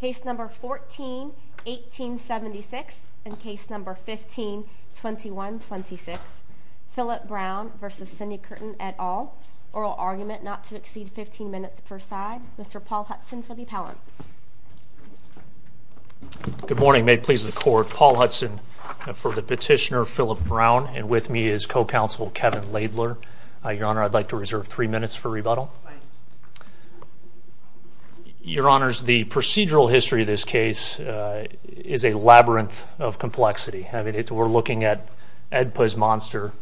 Case No. 14-1876 and Case No. 15-2126 Philip Brown v. Cindi Curtin et al. Oral argument not to exceed 15 minutes per side. Mr. Paul Hudson for the appellant. Good morning. May it please the court, Paul Hudson for the petitioner Philip Brown and with me is co-counsel Kevin Laidler. Your Honor, I'd like to reserve three minutes for rebuttal. Your Honor, the procedural history of this case is a labyrinth of complexity. We're looking at EDPA's monster.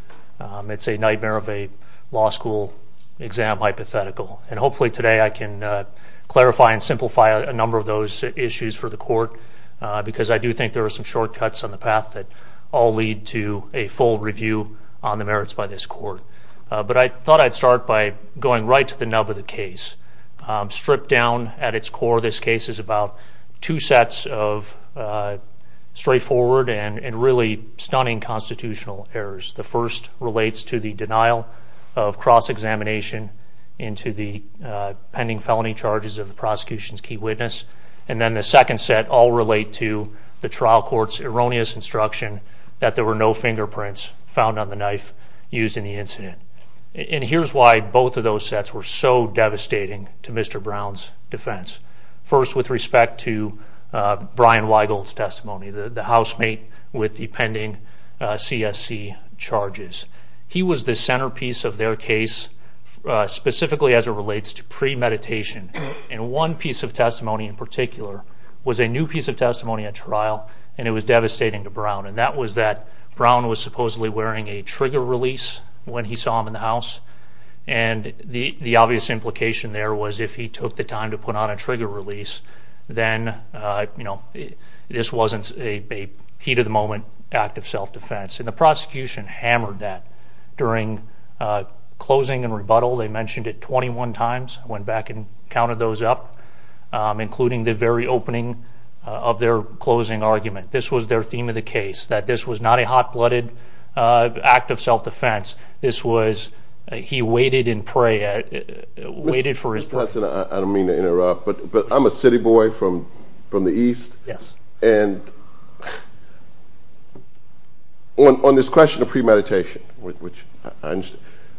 It's a nightmare of a law school exam hypothetical. Hopefully today I can clarify and simplify a number of those issues for the court because I do think there are some shortcuts on the path that all lead to a full review on the merits by this court. But I thought I'd start by going right to the nub of the case. Stripped down at its core, this case is about two sets of straightforward and really stunning constitutional errors. The first relates to the denial of cross-examination into the pending felony charges of the prosecution's key witness. And then the second set all relate to the trial court's erroneous instruction that there were no fingerprints found on the knife used in the incident. And here's why both of those sets were so devastating to Mr. Brown's defense. First, with respect to Brian Weigel's testimony, the housemate with the pending CSC charges. He was the centerpiece of their case, specifically as it relates to premeditation. And one piece of testimony in particular was a new piece of testimony at trial, and it was devastating to Brown. And that was that Brown was supposedly wearing a trigger release when he saw him in the house. And the obvious implication there was if he took the time to put on a trigger release, then this wasn't a heat-of-the-moment act of self-defense. And the prosecution hammered that during closing and rebuttal. They mentioned it 21 times. I went back and counted those up, including the very opening of their closing argument. This was their theme of the case, that this was not a hot-blooded act of self-defense. This was, he waited in prey, waited for his… I don't mean to interrupt, but I'm a city boy from the East, and on this question of premeditation,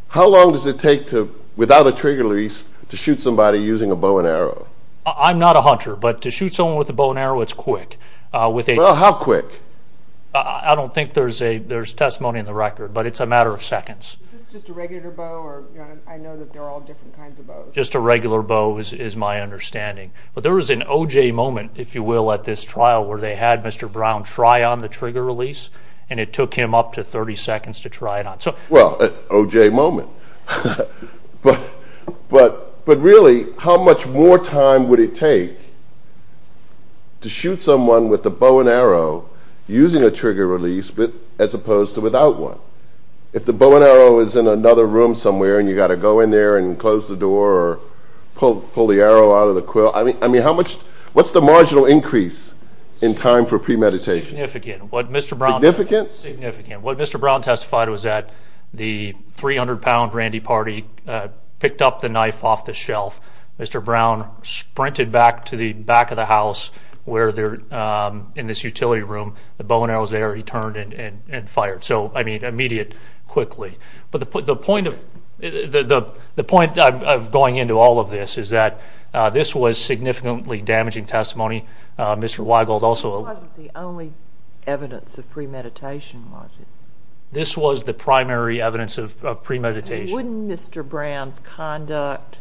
how long does it take without a trigger release to shoot somebody using a bow and arrow? I'm not a hunter, but to shoot someone with a bow and arrow, it's quick. Well, how quick? I don't think there's testimony in the record, but it's a matter of seconds. Is this just a regular bow? I know that there are all different kinds of bows. A regular bow is my understanding, but there was an O.J. moment, if you will, at this trial where they had Mr. Brown try on the trigger release, and it took him up to 30 seconds to try it on. Well, an O.J. moment, but really, how much more time would it take to shoot someone with a bow and arrow using a trigger release as opposed to without one? If the bow and arrow is in another room somewhere, and you've got to go in there and close the door or pull the arrow out of the quill, what's the marginal increase in time for premeditation? Significant. What Mr. Brown testified was that the 300-pound Randy Pardee picked up the knife off the shelf. Mr. Brown sprinted back to the back of the house where they're in this utility room. The bow and arrow was there. He turned and fired. Immediate, quickly. The point of going into all of this is that this was significantly damaging testimony. This wasn't the only evidence of premeditation, was it? This was the primary evidence of premeditation. Wouldn't Mr. Brown's conduct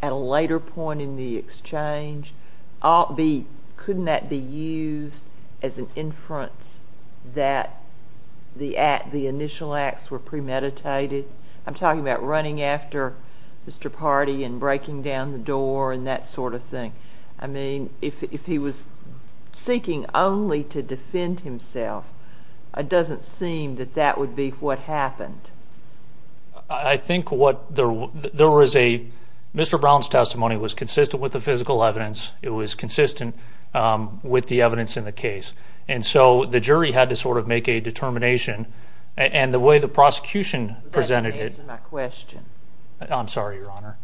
at a later point in the exchange, couldn't that be used as an inference that the initial acts were premeditated? I'm talking about running after Mr. Pardee and breaking down the door and that sort of thing. If he was seeking only to defend himself, it doesn't seem that that would be what happened. Mr. Brown's testimony was consistent with the physical evidence. It was consistent with the evidence in the case. The jury had to make a determination. The way the prosecution presented it... That didn't answer my question. I'm sorry, Your Honor.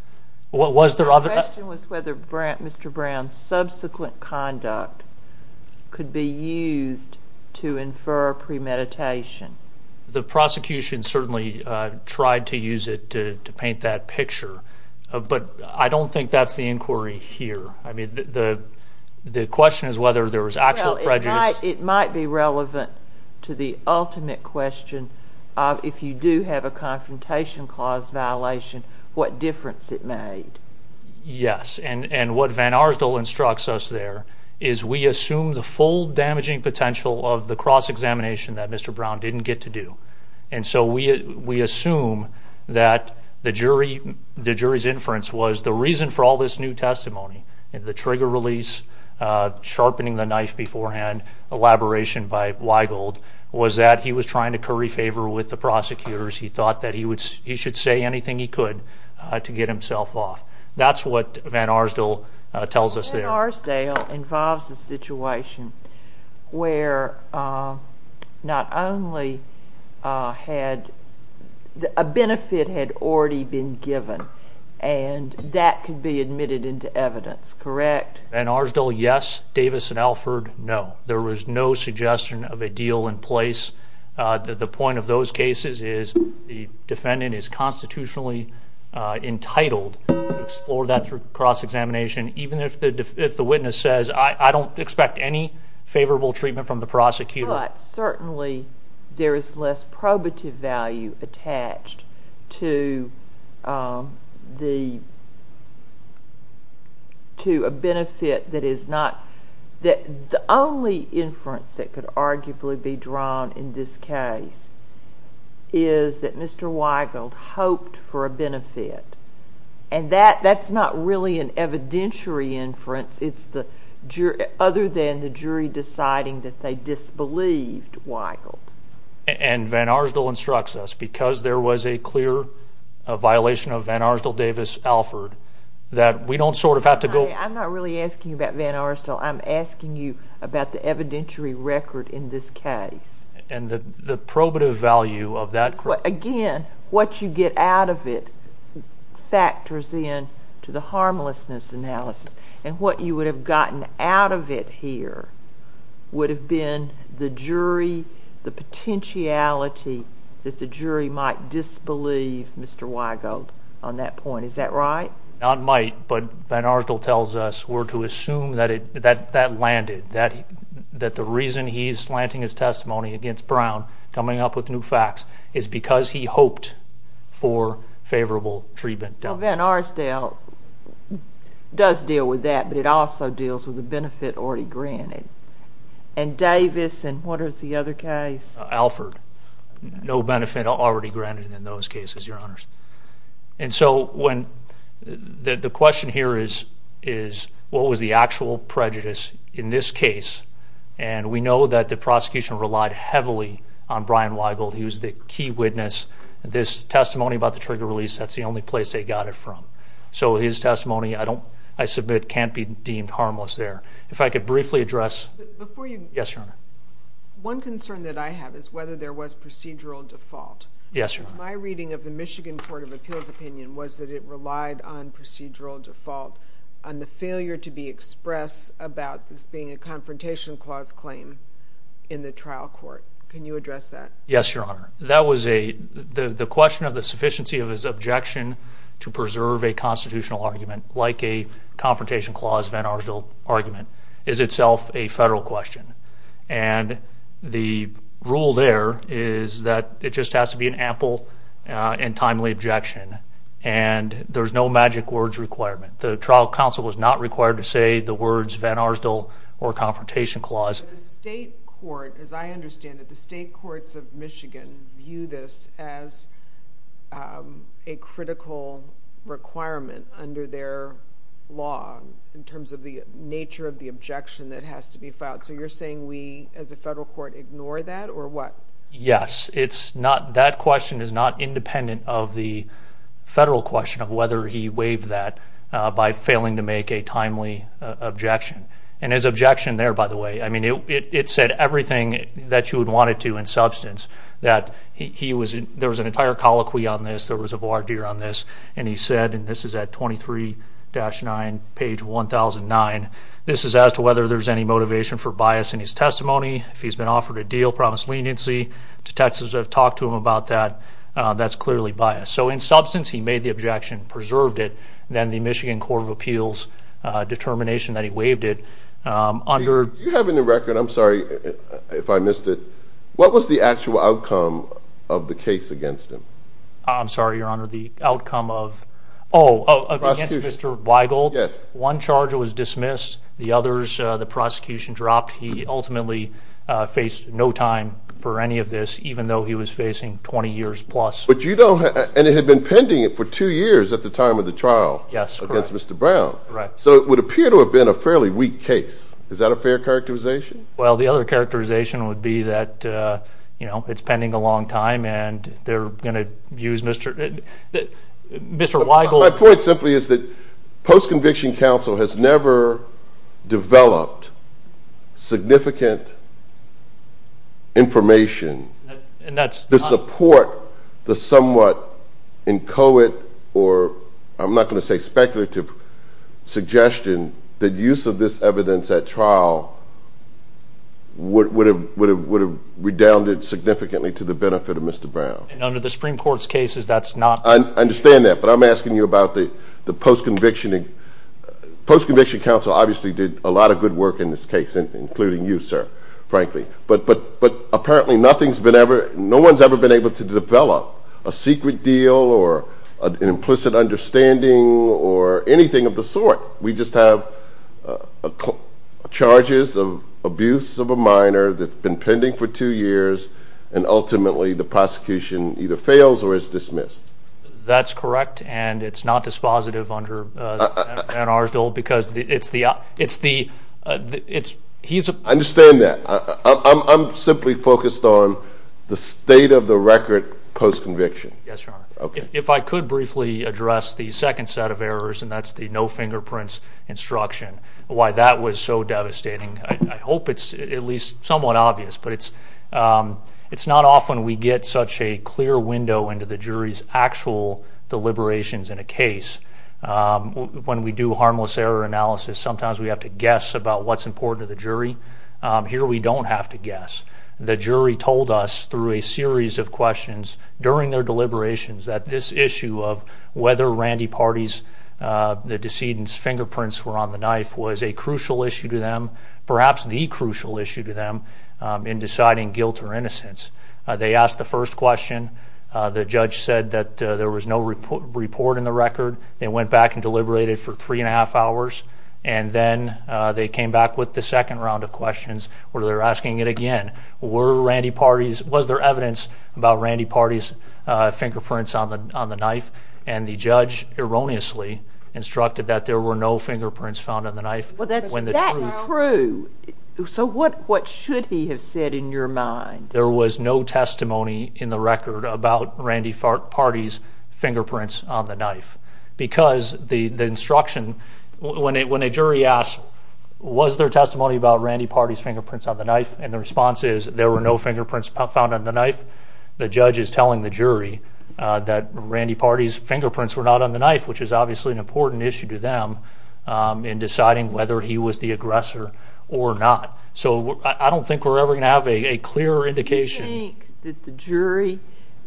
My question was whether Mr. Brown's subsequent conduct could be used to infer premeditation. The prosecution certainly tried to use it to paint that picture, but I don't think that's the inquiry here. The question is whether there was actual prejudice. It might be relevant to the ultimate question of if you do have a confrontation clause violation, what difference it made. Yes, and what Van Arsdale instructs us there is we assume the full damaging potential of the cross-examination that Mr. Brown didn't get to do. We assume that the jury's inference was the reason for all this new testimony, the trigger release, sharpening the knife beforehand, elaboration by Weigold, was that he was trying to curry favor with the prosecutors. He thought that he should say anything he could to get himself off. That's what Van Arsdale tells us there. Van Arsdale involves a situation where not only had a benefit had already been given, and that could be admitted into evidence, correct? Van Arsdale, yes. Davis and Alford, no. There was no suggestion of a deal in place. The point of those cases is the defendant is constitutionally entitled to explore that through cross-examination, even if the witness says, I don't expect any favorable treatment from the prosecutor. But certainly there is less probative value attached to a benefit that is not... The only inference that could arguably be drawn in this case is that Mr. Weigold hoped for a benefit. And that's not really an evidentiary inference. It's other than the jury deciding that they disbelieved Weigold. And Van Arsdale instructs us, because there was a clear violation of Van Arsdale-Davis-Alford, that we don't sort of have to go... I'm not really asking you about Van Arsdale. I'm asking you about the evidentiary record in this case. And the probative value of that... Again, what you get out of it factors in to the harmlessness analysis. And what you would have gotten out of it here would have been the jury, the potentiality that the jury might disbelieve Mr. Weigold on that point. Is that right? Not might, but Van Arsdale tells us we're to assume that that landed. That the reason he's slanting his testimony against Brown, coming up with new facts, is because he hoped for favorable treatment. Van Arsdale does deal with that, but it also deals with a benefit already granted. And Davis and what is the other case? Alford. No benefit already granted in those cases, Your Honors. And so the question here is, what was the actual prejudice in this case? And we know that the prosecution relied heavily on Brian Weigold. He was the key witness. This testimony about the trigger release, that's the only place they got it from. So his testimony, I submit, can't be deemed harmless there. If I could briefly address... Yes, Your Honor. One concern that I have is whether there was procedural default. Yes, Your Honor. My reading of the Michigan Court of Appeals opinion was that it relied on procedural default, on the failure to be expressed about this being a Confrontation Clause claim in the trial court. Can you address that? Yes, Your Honor. That was a, the question of the sufficiency of his objection to preserve a constitutional argument, like a Confrontation Clause Van Arsdale argument, is itself a federal question. And the rule there is that it just has to be an ample and timely objection. And there's no magic words requirement. The trial counsel was not required to say the words Van Arsdale or Confrontation Clause. The state court, as I understand it, the state courts of Michigan view this as a critical requirement under their law in terms of the nature of the objection that has to be filed. So you're saying we, as a federal court, ignore that, or what? Yes. It's not, that question is not independent of the federal question of whether he waived that by failing to make a timely objection. And his objection there, by the way, I mean, it said everything that you would want it to in substance, that he was, there was an entire colloquy on this, there was a voir dire on this, and he said, and this is at 23-9, page 1009, this is as to whether there's any motivation for bias in his testimony. If he's been offered a deal, promised leniency. Detectives have talked to him about that. That's clearly biased. So in substance, he made the objection, preserved it, and then the Michigan Court of Appeals determination that he waived it. Do you have any record, I'm sorry if I missed it, what was the actual outcome of the case against him? I'm sorry, Your Honor, the outcome of, oh, against Mr. Weigel? Yes. One charge was dismissed. The others, the prosecution dropped. He ultimately faced no time for any of this, even though he was facing 20 years plus. But you don't have, and it had been pending for two years at the time of the trial against Mr. Brown. Correct. So it would appear to have been a fairly weak case. Is that a fair characterization? Well, the other characterization would be that, you know, it's pending a long time, and they're going to use Mr. Weigel. My point simply is that post-conviction counsel has never developed significant information to support the somewhat inchoate or I'm not going to say speculative suggestion that use of this evidence at trial would have redounded significantly to the benefit of Mr. Brown. And under the Supreme Court's cases, that's not true. I understand that, but I'm asking you about the post-conviction. Post-conviction counsel obviously did a lot of good work in this case, including you, sir, frankly. But apparently no one's ever been able to develop a secret deal or an implicit understanding or anything of the sort. We just have charges of abuse of a minor that's been pending for two years, and ultimately the prosecution either fails or is dismissed. That's correct, and it's not dispositive under Ann Arsdell because it's the – he's a – I understand that. I'm simply focused on the state of the record post-conviction. Yes, Your Honor. If I could briefly address the second set of errors, and that's the no fingerprints instruction, why that was so devastating. I hope it's at least somewhat obvious, but it's not often we get such a clear window into the jury's actual deliberations in a case. When we do harmless error analysis, sometimes we have to guess about what's important to the jury. The jury told us through a series of questions during their deliberations that this issue of whether Randy Partey's – the decedent's fingerprints were on the knife was a crucial issue to them, perhaps the crucial issue to them in deciding guilt or innocence. They asked the first question. The judge said that there was no report in the record. They went back and deliberated for three and a half hours, and then they came back with the second round of questions where they're asking it again. Were Randy Partey's – was there evidence about Randy Partey's fingerprints on the knife? And the judge erroneously instructed that there were no fingerprints found on the knife. That's true. So what should he have said in your mind? There was no testimony in the record about Randy Partey's fingerprints on the knife because the instruction – when a jury asks, was there testimony about Randy Partey's fingerprints on the knife? And the response is there were no fingerprints found on the knife. The judge is telling the jury that Randy Partey's fingerprints were not on the knife, which is obviously an important issue to them in deciding whether he was the aggressor or not. So I don't think we're ever going to have a clearer indication. Do you think that the jury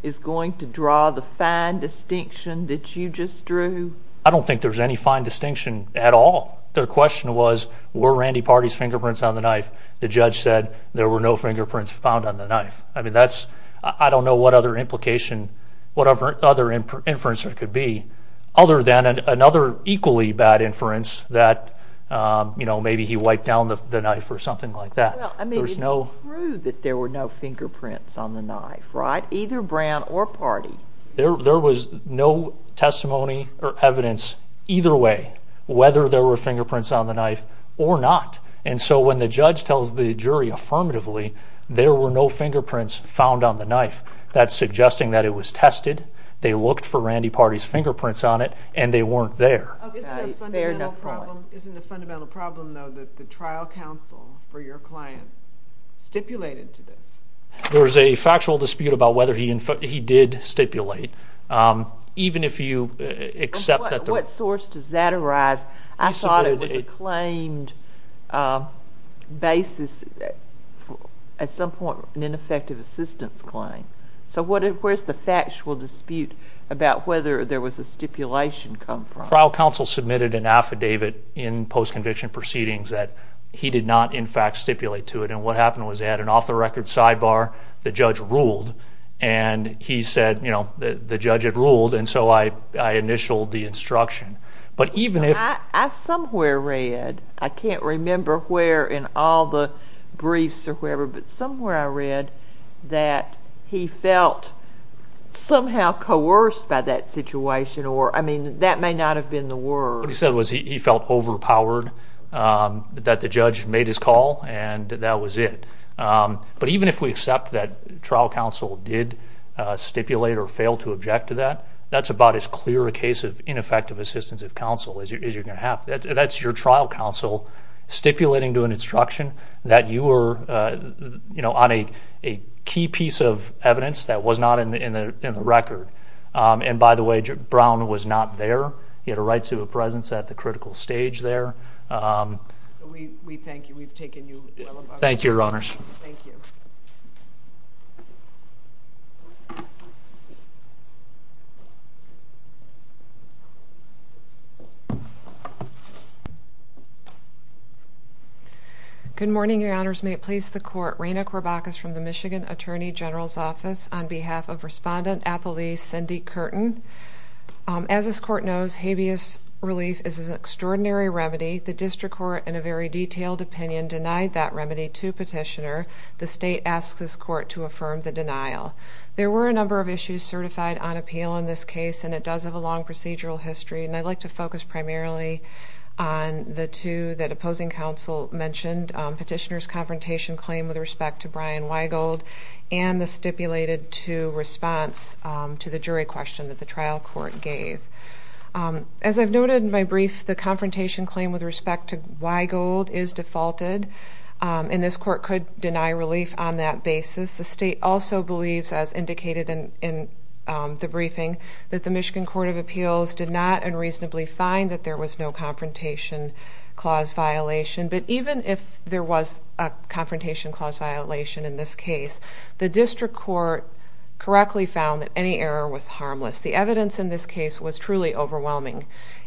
is going to draw the fine distinction that you just drew? I don't think there's any fine distinction at all. Their question was, were Randy Partey's fingerprints on the knife? The judge said there were no fingerprints found on the knife. I mean, that's – I don't know what other implication – whatever other inference there could be other than another equally bad inference that, you know, maybe he wiped down the knife or something like that. Well, I mean, it's true that there were no fingerprints on the knife, right? Either Brown or Partey. There was no testimony or evidence either way whether there were fingerprints on the knife or not. And so when the judge tells the jury affirmatively there were no fingerprints found on the knife, that's suggesting that it was tested, they looked for Randy Partey's fingerprints on it, and they weren't there. Isn't it a fundamental problem, though, that the trial counsel for your client stipulated to this? There was a factual dispute about whether he did stipulate. Even if you accept that the – What source does that arise? I thought it was a claimed basis at some point, an ineffective assistance claim. So where's the factual dispute about whether there was a stipulation come from? The trial counsel submitted an affidavit in post-conviction proceedings that he did not, in fact, stipulate to it. And what happened was they had an off-the-record sidebar. The judge ruled. And he said, you know, the judge had ruled, and so I initialed the instruction. But even if – I somewhere read – I can't remember where in all the briefs or wherever, but somewhere I read that he felt somehow coerced by that situation or – What he said was he felt overpowered, that the judge made his call, and that was it. But even if we accept that trial counsel did stipulate or fail to object to that, that's about as clear a case of ineffective assistance of counsel as you're going to have. That's your trial counsel stipulating to an instruction that you were, you know, on a key piece of evidence that was not in the record. And, by the way, Brown was not there. He had a right to a presence at the critical stage there. So we thank you. We've taken you well above. Thank you, Your Honors. Thank you. Good morning, Your Honors. May it please the Court, Raina Corbachus from the Michigan Attorney General's Office, on behalf of Respondent Appleby Cindy Curtin. As this Court knows, habeas relief is an extraordinary remedy. The district court, in a very detailed opinion, denied that remedy to Petitioner. The state asks this Court to affirm the denial. There were a number of issues certified on appeal in this case, and it does have a long procedural history. And I'd like to focus primarily on the two that opposing counsel mentioned, Petitioner's confrontation claim with respect to Brian Weigold and the stipulated to response to the jury question that the trial court gave. As I've noted in my brief, the confrontation claim with respect to Weigold is defaulted, and this Court could deny relief on that basis. The state also believes, as indicated in the briefing, that the Michigan Court of Appeals did not unreasonably find that there was no confrontation clause violation. But even if there was a confrontation clause violation in this case, the district court correctly found that any error was harmless. The evidence in this case was truly overwhelming.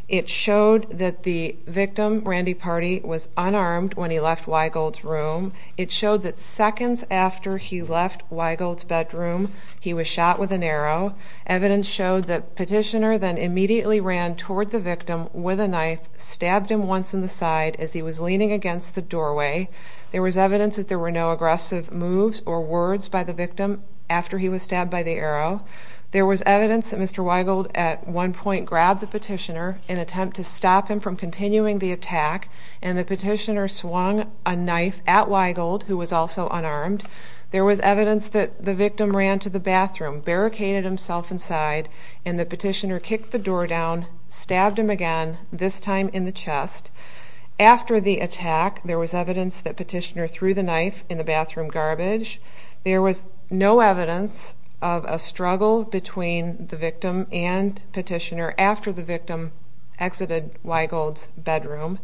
It showed that the victim, Randy Party, was unarmed when he left Weigold's room. It showed that seconds after he left Weigold's bedroom, he was shot with an arrow. Evidence showed that Petitioner then immediately ran toward the victim with a knife, stabbed him once in the side as he was leaning against the doorway. There was evidence that there were no aggressive moves or words by the victim after he was stabbed by the arrow. There was evidence that Mr. Weigold at one point grabbed the Petitioner in an attempt to stop him from continuing the attack, and the Petitioner swung a knife at Weigold, who was also unarmed. There was evidence that the victim ran to the bathroom, barricaded himself inside, and the Petitioner kicked the door down, stabbed him again, this time in the chest. After the attack, there was evidence that Petitioner threw the knife in the bathroom garbage. There was no evidence of a struggle between the victim and Petitioner after the victim exited Weigold's bedroom.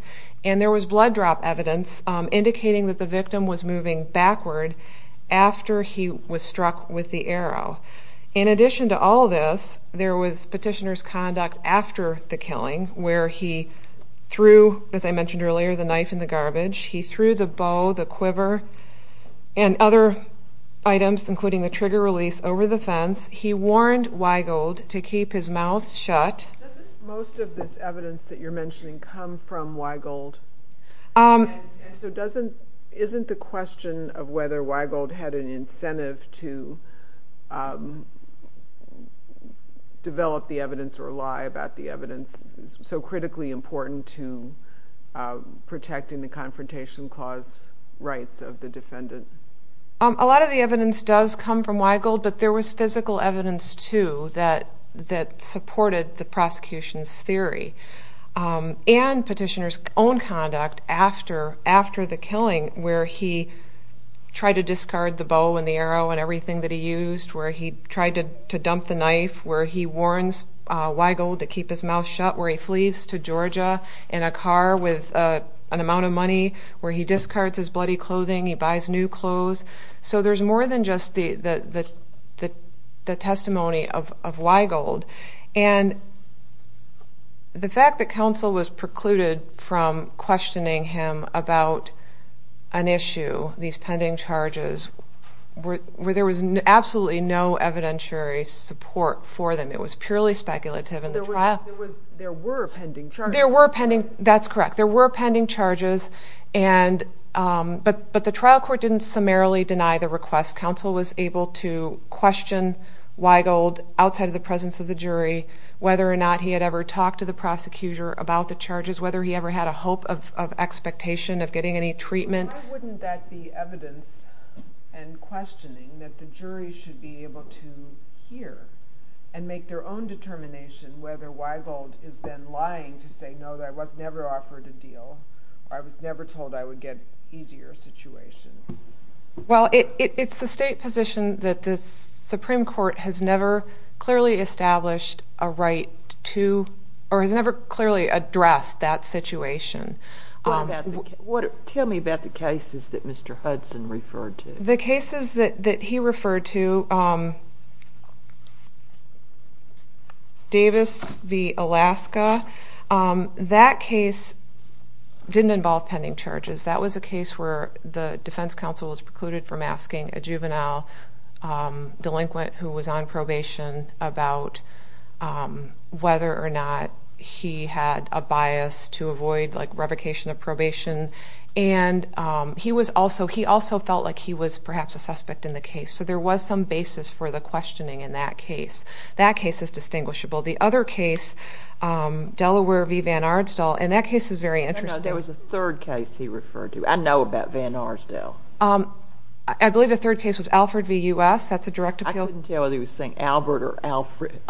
And there was blood drop evidence indicating that the victim was moving backward after he was struck with the arrow. In addition to all this, there was Petitioner's conduct after the killing where he threw, as I mentioned earlier, the knife in the garbage. He threw the bow, the quiver, and other items, including the trigger release, over the fence. He warned Weigold to keep his mouth shut. Doesn't most of this evidence that you're mentioning come from Weigold? And so isn't the question of whether Weigold had an incentive to develop the evidence or lie about the evidence so critically important to protecting the Confrontation Clause rights of the defendant? A lot of the evidence does come from Weigold, but there was physical evidence, too, that supported the prosecution's theory. And Petitioner's own conduct after the killing where he tried to discard the bow and the arrow and everything that he used, where he tried to dump the knife, where he warns Weigold to keep his mouth shut, where he flees to Georgia in a car with an amount of money, where he discards his bloody clothing, he buys new clothes. So there's more than just the testimony of Weigold. And the fact that counsel was precluded from questioning him about an issue, these pending charges, where there was absolutely no evidentiary support for them. It was purely speculative. There were pending charges. There were pending charges, that's correct. There were pending charges, but the trial court didn't summarily deny the request. Counsel was able to question Weigold outside of the presence of the jury whether or not he had ever talked to the prosecutor about the charges, whether he ever had a hope of expectation of getting any treatment. Why wouldn't that be evidence and questioning, that the jury should be able to hear and make their own determination whether Weigold is then lying to say, no, I was never offered a deal, or I was never told I would get an easier situation? Well, it's the state position that the Supreme Court has never clearly established a right to, or has never clearly addressed that situation. Tell me about the cases that Mr. Hudson referred to. The cases that he referred to, Davis v. Alaska, that case didn't involve pending charges. That was a case where the defense counsel was precluded from asking a juvenile delinquent who was on probation about whether or not he had a bias to avoid revocation of probation. And he also felt like he was perhaps a suspect in the case. So there was some basis for the questioning in that case. That case is distinguishable. The other case, Delaware v. Van Ardstel, and that case is very interesting. There was a third case he referred to. I know about Van Ardstel. I believe the third case was Alford v. U.S. I couldn't tell whether he was saying Albert or Alfred.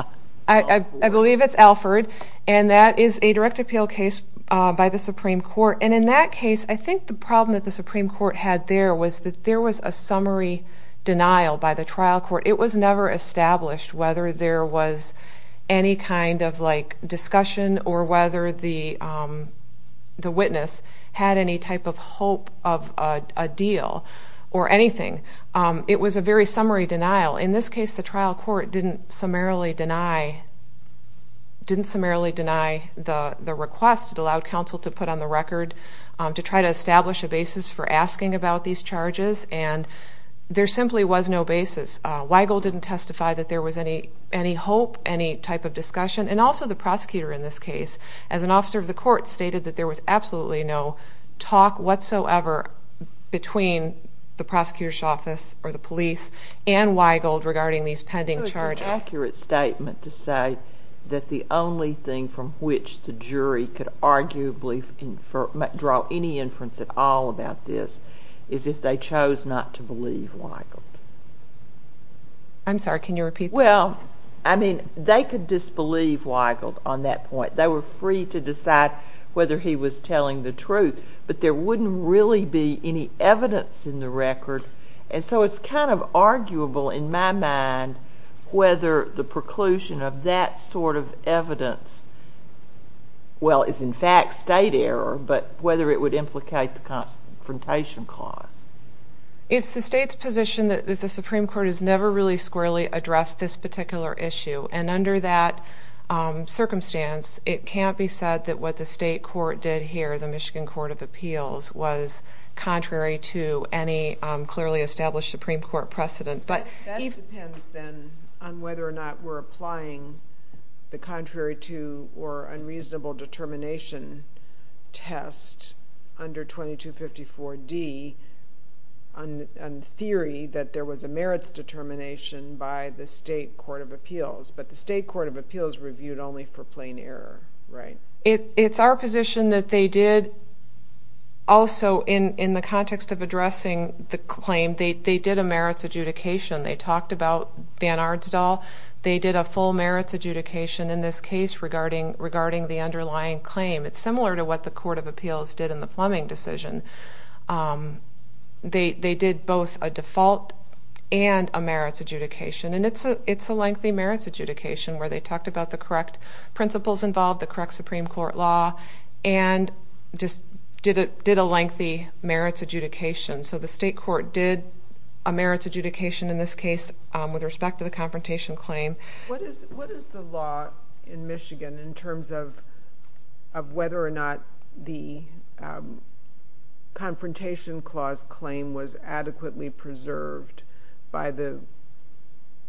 I believe it's Alford, and that is a direct appeal case by the Supreme Court. And in that case, I think the problem that the Supreme Court had there was that there was a summary denial by the trial court. It was never established whether there was any kind of discussion or whether the witness had any type of hope of a deal or anything. It was a very summary denial. In this case, the trial court didn't summarily deny the request. It allowed counsel to put on the record to try to establish a basis for asking about these charges, and there simply was no basis. Weigel didn't testify that there was any hope, any type of discussion, and also the prosecutor in this case, as an officer of the court, stated that there was absolutely no talk whatsoever between the prosecutor's office or the police and Weigel regarding these pending charges. It was an accurate statement to say that the only thing from which the jury could arguably draw any inference at all about this is if they chose not to believe Weigel. I'm sorry, can you repeat that? Well, I mean, they could disbelieve Weigel on that point. They were free to decide whether he was telling the truth, but there wouldn't really be any evidence in the record, and so it's kind of arguable in my mind whether the preclusion of that sort of evidence, well, is in fact state error, but whether it would implicate the confrontation clause. Is the state's position that the Supreme Court has never really squarely addressed this particular issue, and under that circumstance, it can't be said that what the state court did here, the Michigan Court of Appeals, was contrary to any clearly established Supreme Court precedent. That depends, then, on whether or not we're applying the contrary to or unreasonable determination test under 2254D on theory that there was a merits determination by the state court of appeals, but the state court of appeals reviewed only for plain error, right? It's our position that they did also, in the context of addressing the claim, they did a merits adjudication. They talked about Van Arndt's Doll. They did a full merits adjudication in this case regarding the underlying claim. It's similar to what the court of appeals did in the Fleming decision. They did both a default and a merits adjudication, and it's a lengthy merits adjudication where they talked about the correct principles involved, the correct Supreme Court law, and just did a lengthy merits adjudication. So the state court did a merits adjudication in this case with respect to the confrontation claim. What is the law in Michigan in terms of whether or not the confrontation clause claim was adequately preserved by the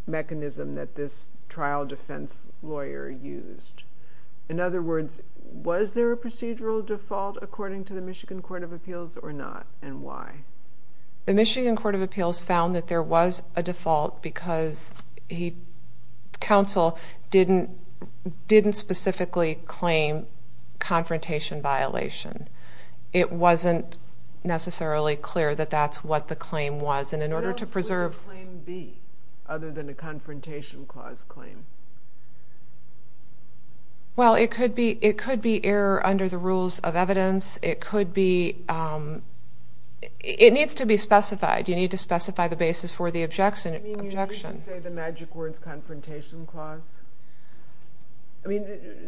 mechanism that this trial defense lawyer used? In other words, was there a procedural default according to the Michigan court of appeals or not, and why? Because counsel didn't specifically claim confrontation violation. It wasn't necessarily clear that that's what the claim was, and in order to preserve... What else would the claim be other than a confrontation clause claim? Well, it could be error under the rules of evidence. It needs to be specified. You need to specify the basis for the objection. You mean you need to say the magic words confrontation clause? I mean,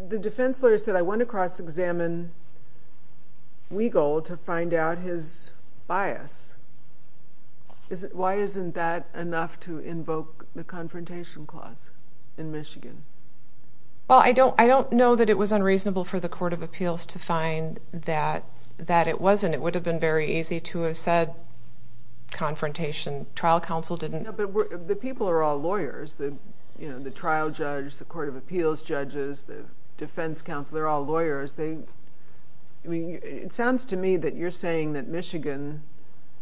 the defense lawyer said, I went across to examine Weigel to find out his bias. Why isn't that enough to invoke the confrontation clause in Michigan? Well, I don't know that it was unreasonable for the court of appeals to find that it wasn't. It would have been very easy to have said confrontation. Trial counsel didn't. But the people are all lawyers. The trial judge, the court of appeals judges, the defense counsel, they're all lawyers. It sounds to me that you're saying that Michigan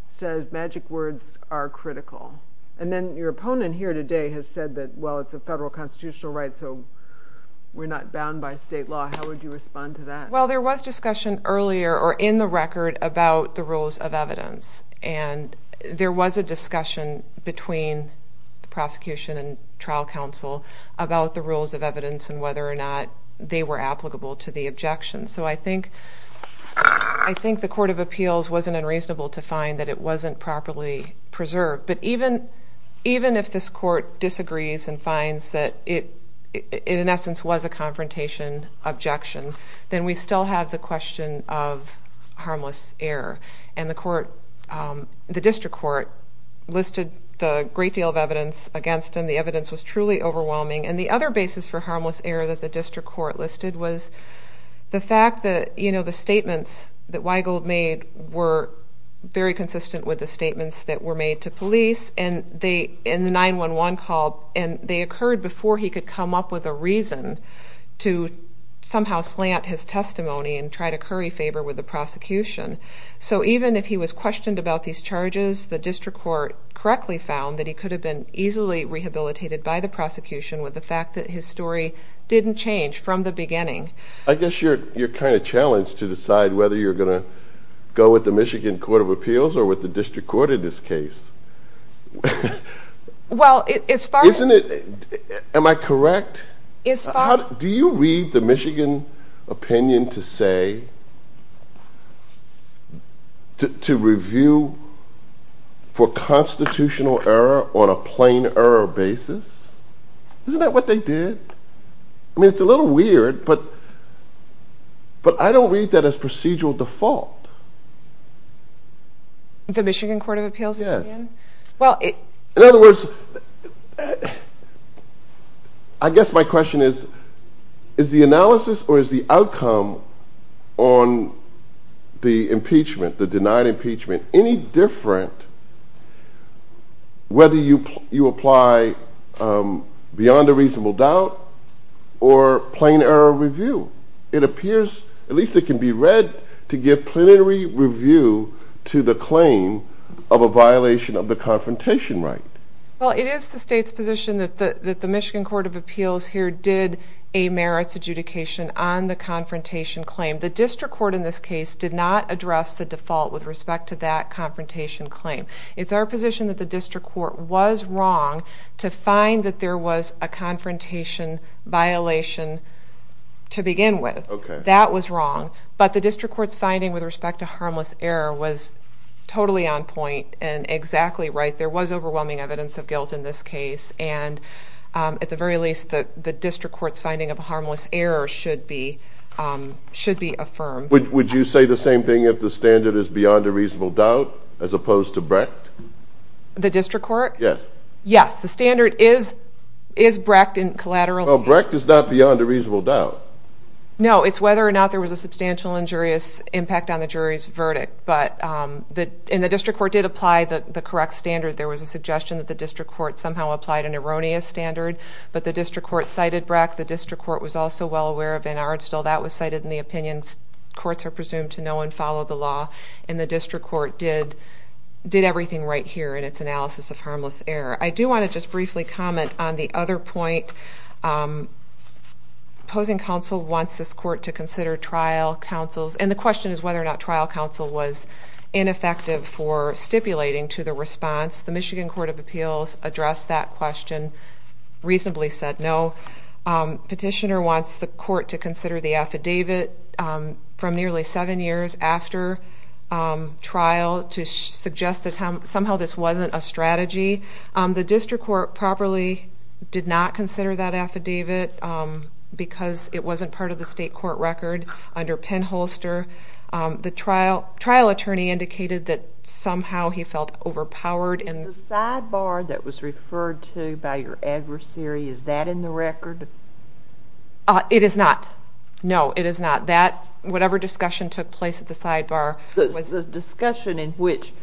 says magic words are critical, and then your opponent here today has said that, well, it's a federal constitutional right, so we're not bound by state law. How would you respond to that? Well, there was discussion earlier or in the record about the rules of evidence, and there was a discussion between the prosecution and trial counsel about the rules of evidence and whether or not they were applicable to the objection. So I think the court of appeals wasn't unreasonable to find that it wasn't properly preserved. But even if this court disagrees and finds that it, in essence, was a confrontation objection, then we still have the question of harmless error. And the district court listed a great deal of evidence against him. The evidence was truly overwhelming. And the other basis for harmless error that the district court listed was the fact that the statements that Weigel made were very consistent with the statements that were made to police in the 911 call, and they occurred before he could come up with a reason to somehow slant his testimony and try to curry favor with the prosecution. So even if he was questioned about these charges, the district court correctly found that he could have been easily rehabilitated by the prosecution with the fact that his story didn't change from the beginning. I guess you're kind of challenged to decide whether you're going to go with the Michigan Court of Appeals or with the district court in this case. Well, as far as... Am I correct? Do you read the Michigan opinion to say to review for constitutional error on a plain error basis? Isn't that what they did? I mean, it's a little weird, but I don't read that as procedural default. The Michigan Court of Appeals opinion? Yeah. In other words, I guess my question is, is the analysis or is the outcome on the impeachment, the denied impeachment, any different whether you apply beyond a reasonable doubt or plain error review? It appears, at least it can be read, to give plenary review to the claim of a violation of the confrontation right. Well, it is the state's position that the Michigan Court of Appeals here did a merits adjudication on the confrontation claim. The district court in this case did not address the default with respect to that confrontation claim. It's our position that the district court was wrong to find that there was a confrontation violation to begin with. That was wrong. But the district court's finding with respect to harmless error was totally on point and exactly right. There was overwhelming evidence of guilt in this case. And at the very least, the district court's finding of harmless error should be affirmed. Would you say the same thing if the standard is beyond a reasonable doubt as opposed to Brecht? The district court? Yes. Yes, the standard is Brecht in collateral. Well, Brecht is not beyond a reasonable doubt. No, it's whether or not there was a substantial injurious impact on the jury's verdict. And the district court did apply the correct standard. There was a suggestion that the district court somehow applied an erroneous standard. But the district court cited Brecht. The district court was also well aware of Van Aardstel. That was cited in the opinion courts are presumed to know and follow the law. And the district court did everything right here in its analysis of harmless error. I do want to just briefly comment on the other point. Opposing counsel wants this court to consider trial counsels. And the question is whether or not trial counsel was ineffective for stipulating to the response. The Michigan Court of Appeals addressed that question, reasonably said no. Petitioner wants the court to consider the affidavit from nearly seven years after trial to suggest that somehow this wasn't a strategy. The district court properly did not consider that affidavit because it wasn't part of the state court record under Penn Holster. The trial attorney indicated that somehow he felt overpowered. Is the sidebar that was referred to by your adversary, is that in the record? It is not. No, it is not. Whatever discussion took place at the sidebar... The discussion which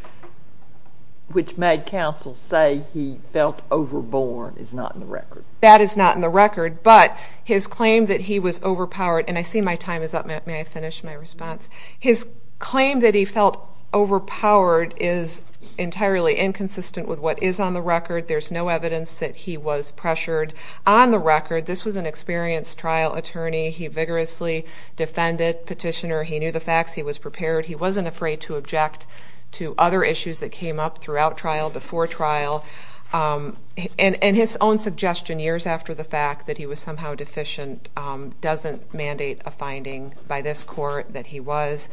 made counsel say he felt overborne is not in the record. That is not in the record, but his claim that he was overpowered, and I see my time is up. May I finish my response? His claim that he felt overpowered is entirely inconsistent with what is on the record. There's no evidence that he was pressured on the record. This was an experienced trial attorney. He vigorously defended Petitioner. He knew the facts. He was prepared. He wasn't afraid to object to other issues that came up throughout trial, before trial. And his own suggestion, years after the fact, that he was somehow deficient doesn't mandate a finding by this court that he was.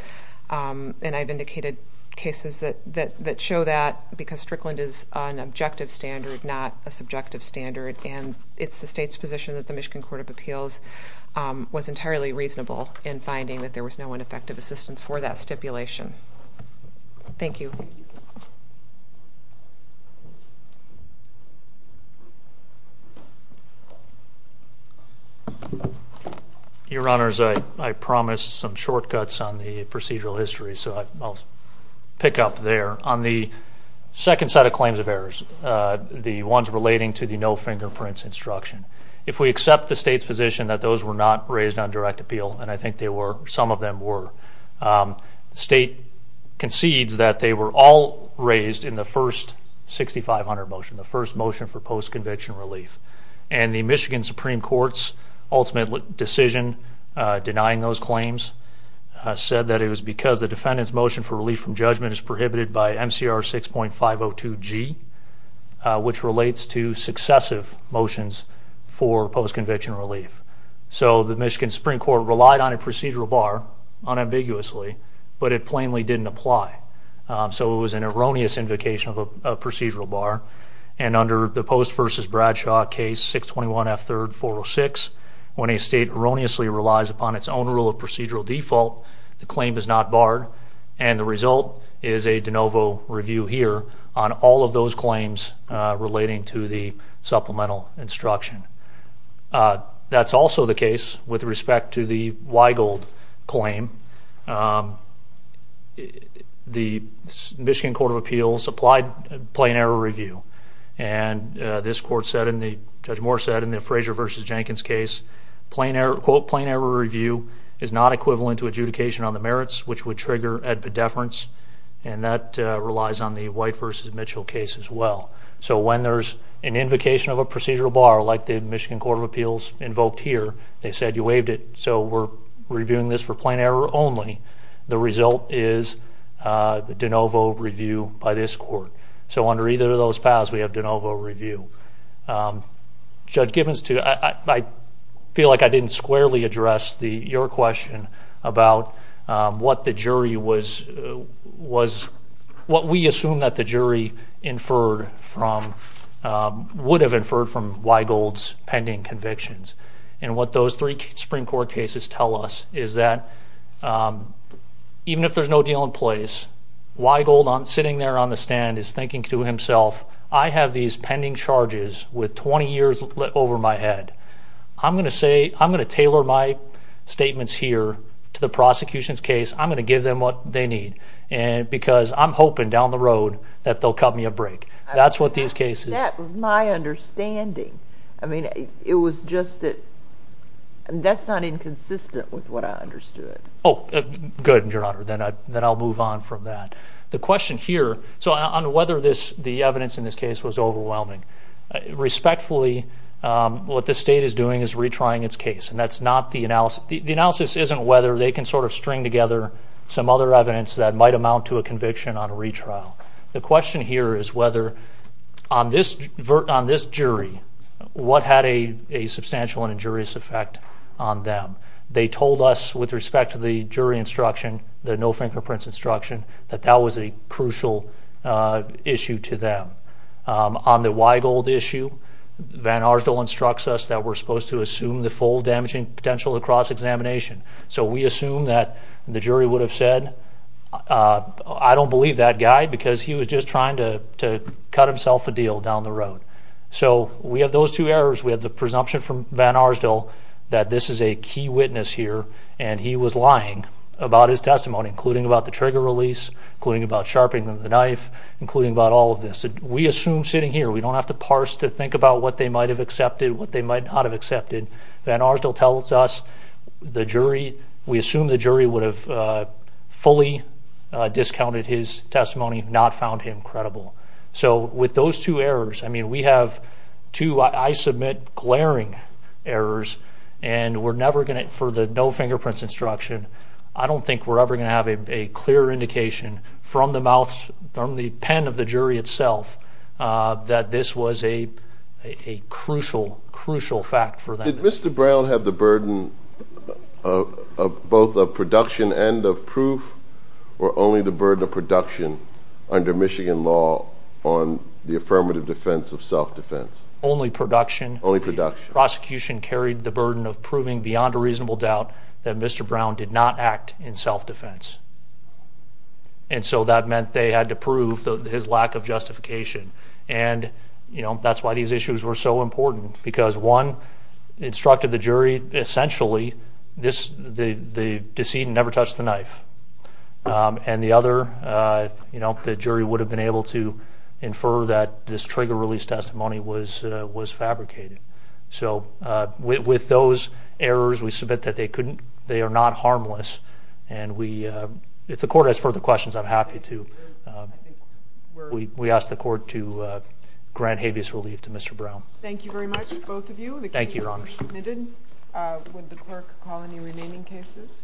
And I've indicated cases that show that because Strickland is an objective standard, not a subjective standard, and it's the state's position that the Michigan Court of Appeals was entirely reasonable in finding that there was no ineffective assistance for that stipulation. Thank you. Your Honors, I promised some shortcuts on the procedural history, so I'll pick up there. On the second set of claims of errors, the ones relating to the no-fingerprints instruction, if we accept the state's position that those were not raised on direct appeal, and I think some of them were, the state concedes that they were all raised in the first 6500 motion, the first motion for post-conviction relief. And the Michigan Supreme Court's ultimate decision denying those claims said that it was because the defendant's motion for relief from judgment is prohibited by MCR 6.502G, which relates to successive motions for post-conviction relief. So the Michigan Supreme Court relied on a procedural bar unambiguously, but it plainly didn't apply. So it was an erroneous invocation of a procedural bar, and under the Post v. Bradshaw case 621F3-406, when a state erroneously relies upon its own rule of procedural default, the claim is not barred, and the result is a de novo review here on all of those claims relating to the supplemental instruction. That's also the case with respect to the Weigold claim. The Michigan Court of Appeals applied plain error review, and this court said, and Judge Moore said, in the Frazier v. Jenkins case, quote, plain error review is not equivalent to adjudication on the merits, which would trigger epidefference, and that relies on the White v. Mitchell case as well. So when there's an invocation of a procedural bar, like the Michigan Court of Appeals invoked here, they said you waived it, so we're reviewing this for plain error only. The result is a de novo review by this court. So under either of those paths, we have de novo review. Judge Gibbons, I feel like I didn't squarely address your question about what the jury was, what we assume that the jury inferred from, would have inferred from Weigold's pending convictions. And what those three Supreme Court cases tell us is that even if there's no deal in place, Weigold sitting there on the stand is thinking to himself, I have these pending charges with 20 years over my head. I'm going to tailor my statements here to the prosecution's case. I'm going to give them what they need because I'm hoping down the road that they'll cut me a break. That's what these cases... That was my understanding. I mean, it was just that that's not inconsistent with what I understood. Oh, good, Your Honor. Then I'll move on from that. The question here on whether the evidence in this case was overwhelming, respectfully, what the state is doing is retrying its case, and that's not the analysis. The analysis isn't whether they can sort of string together some other evidence that might amount to a conviction on a retrial. The question here is whether on this jury, what had a substantial and injurious effect on them. They told us with respect to the jury instruction, the no fingerprints instruction, that that was a crucial issue to them. On the Weigold issue, Van Arsdal instructs us that we're supposed to assume the full damaging potential of cross-examination. So we assume that the jury would have said, I don't believe that guy because he was just trying to cut himself a deal down the road. So we have those two errors. We have the presumption from Van Arsdal that this is a key witness here, and he was lying about his testimony, including about the trigger release, including about sharpening the knife, including about all of this. We assume sitting here, we don't have to parse to think about what they might have accepted, what they might not have accepted. Van Arsdal tells us the jury, we assume the jury would have fully discounted his testimony, not found him credible. So with those two errors, I mean, we have two, I submit, glaring errors, and we're never going to, for the no fingerprints instruction, I don't think we're ever going to have a clear indication from the mouth, from the pen of the jury itself, that this was a crucial, crucial fact for them. Did Mr. Brown have the burden of both of production and of proof, or only the burden of production under Michigan law on the affirmative defense of self-defense? Only production. Only production. Prosecution carried the burden of proving beyond a reasonable doubt that Mr. Brown did not act in self-defense. And so that meant they had to prove his lack of justification. And, you know, that's why these issues were so important, because one instructed the jury essentially the decedent never touched the knife. And the other, you know, the jury would have been able to infer that this trigger release testimony was fabricated. So with those errors, we submit that they are not harmless. And if the court has further questions, I'm happy to. We ask the court to grant habeas relief to Mr. Brown. Thank you very much, both of you. Thank you, Your Honors. The case has been submitted. Would the clerk call any remaining cases?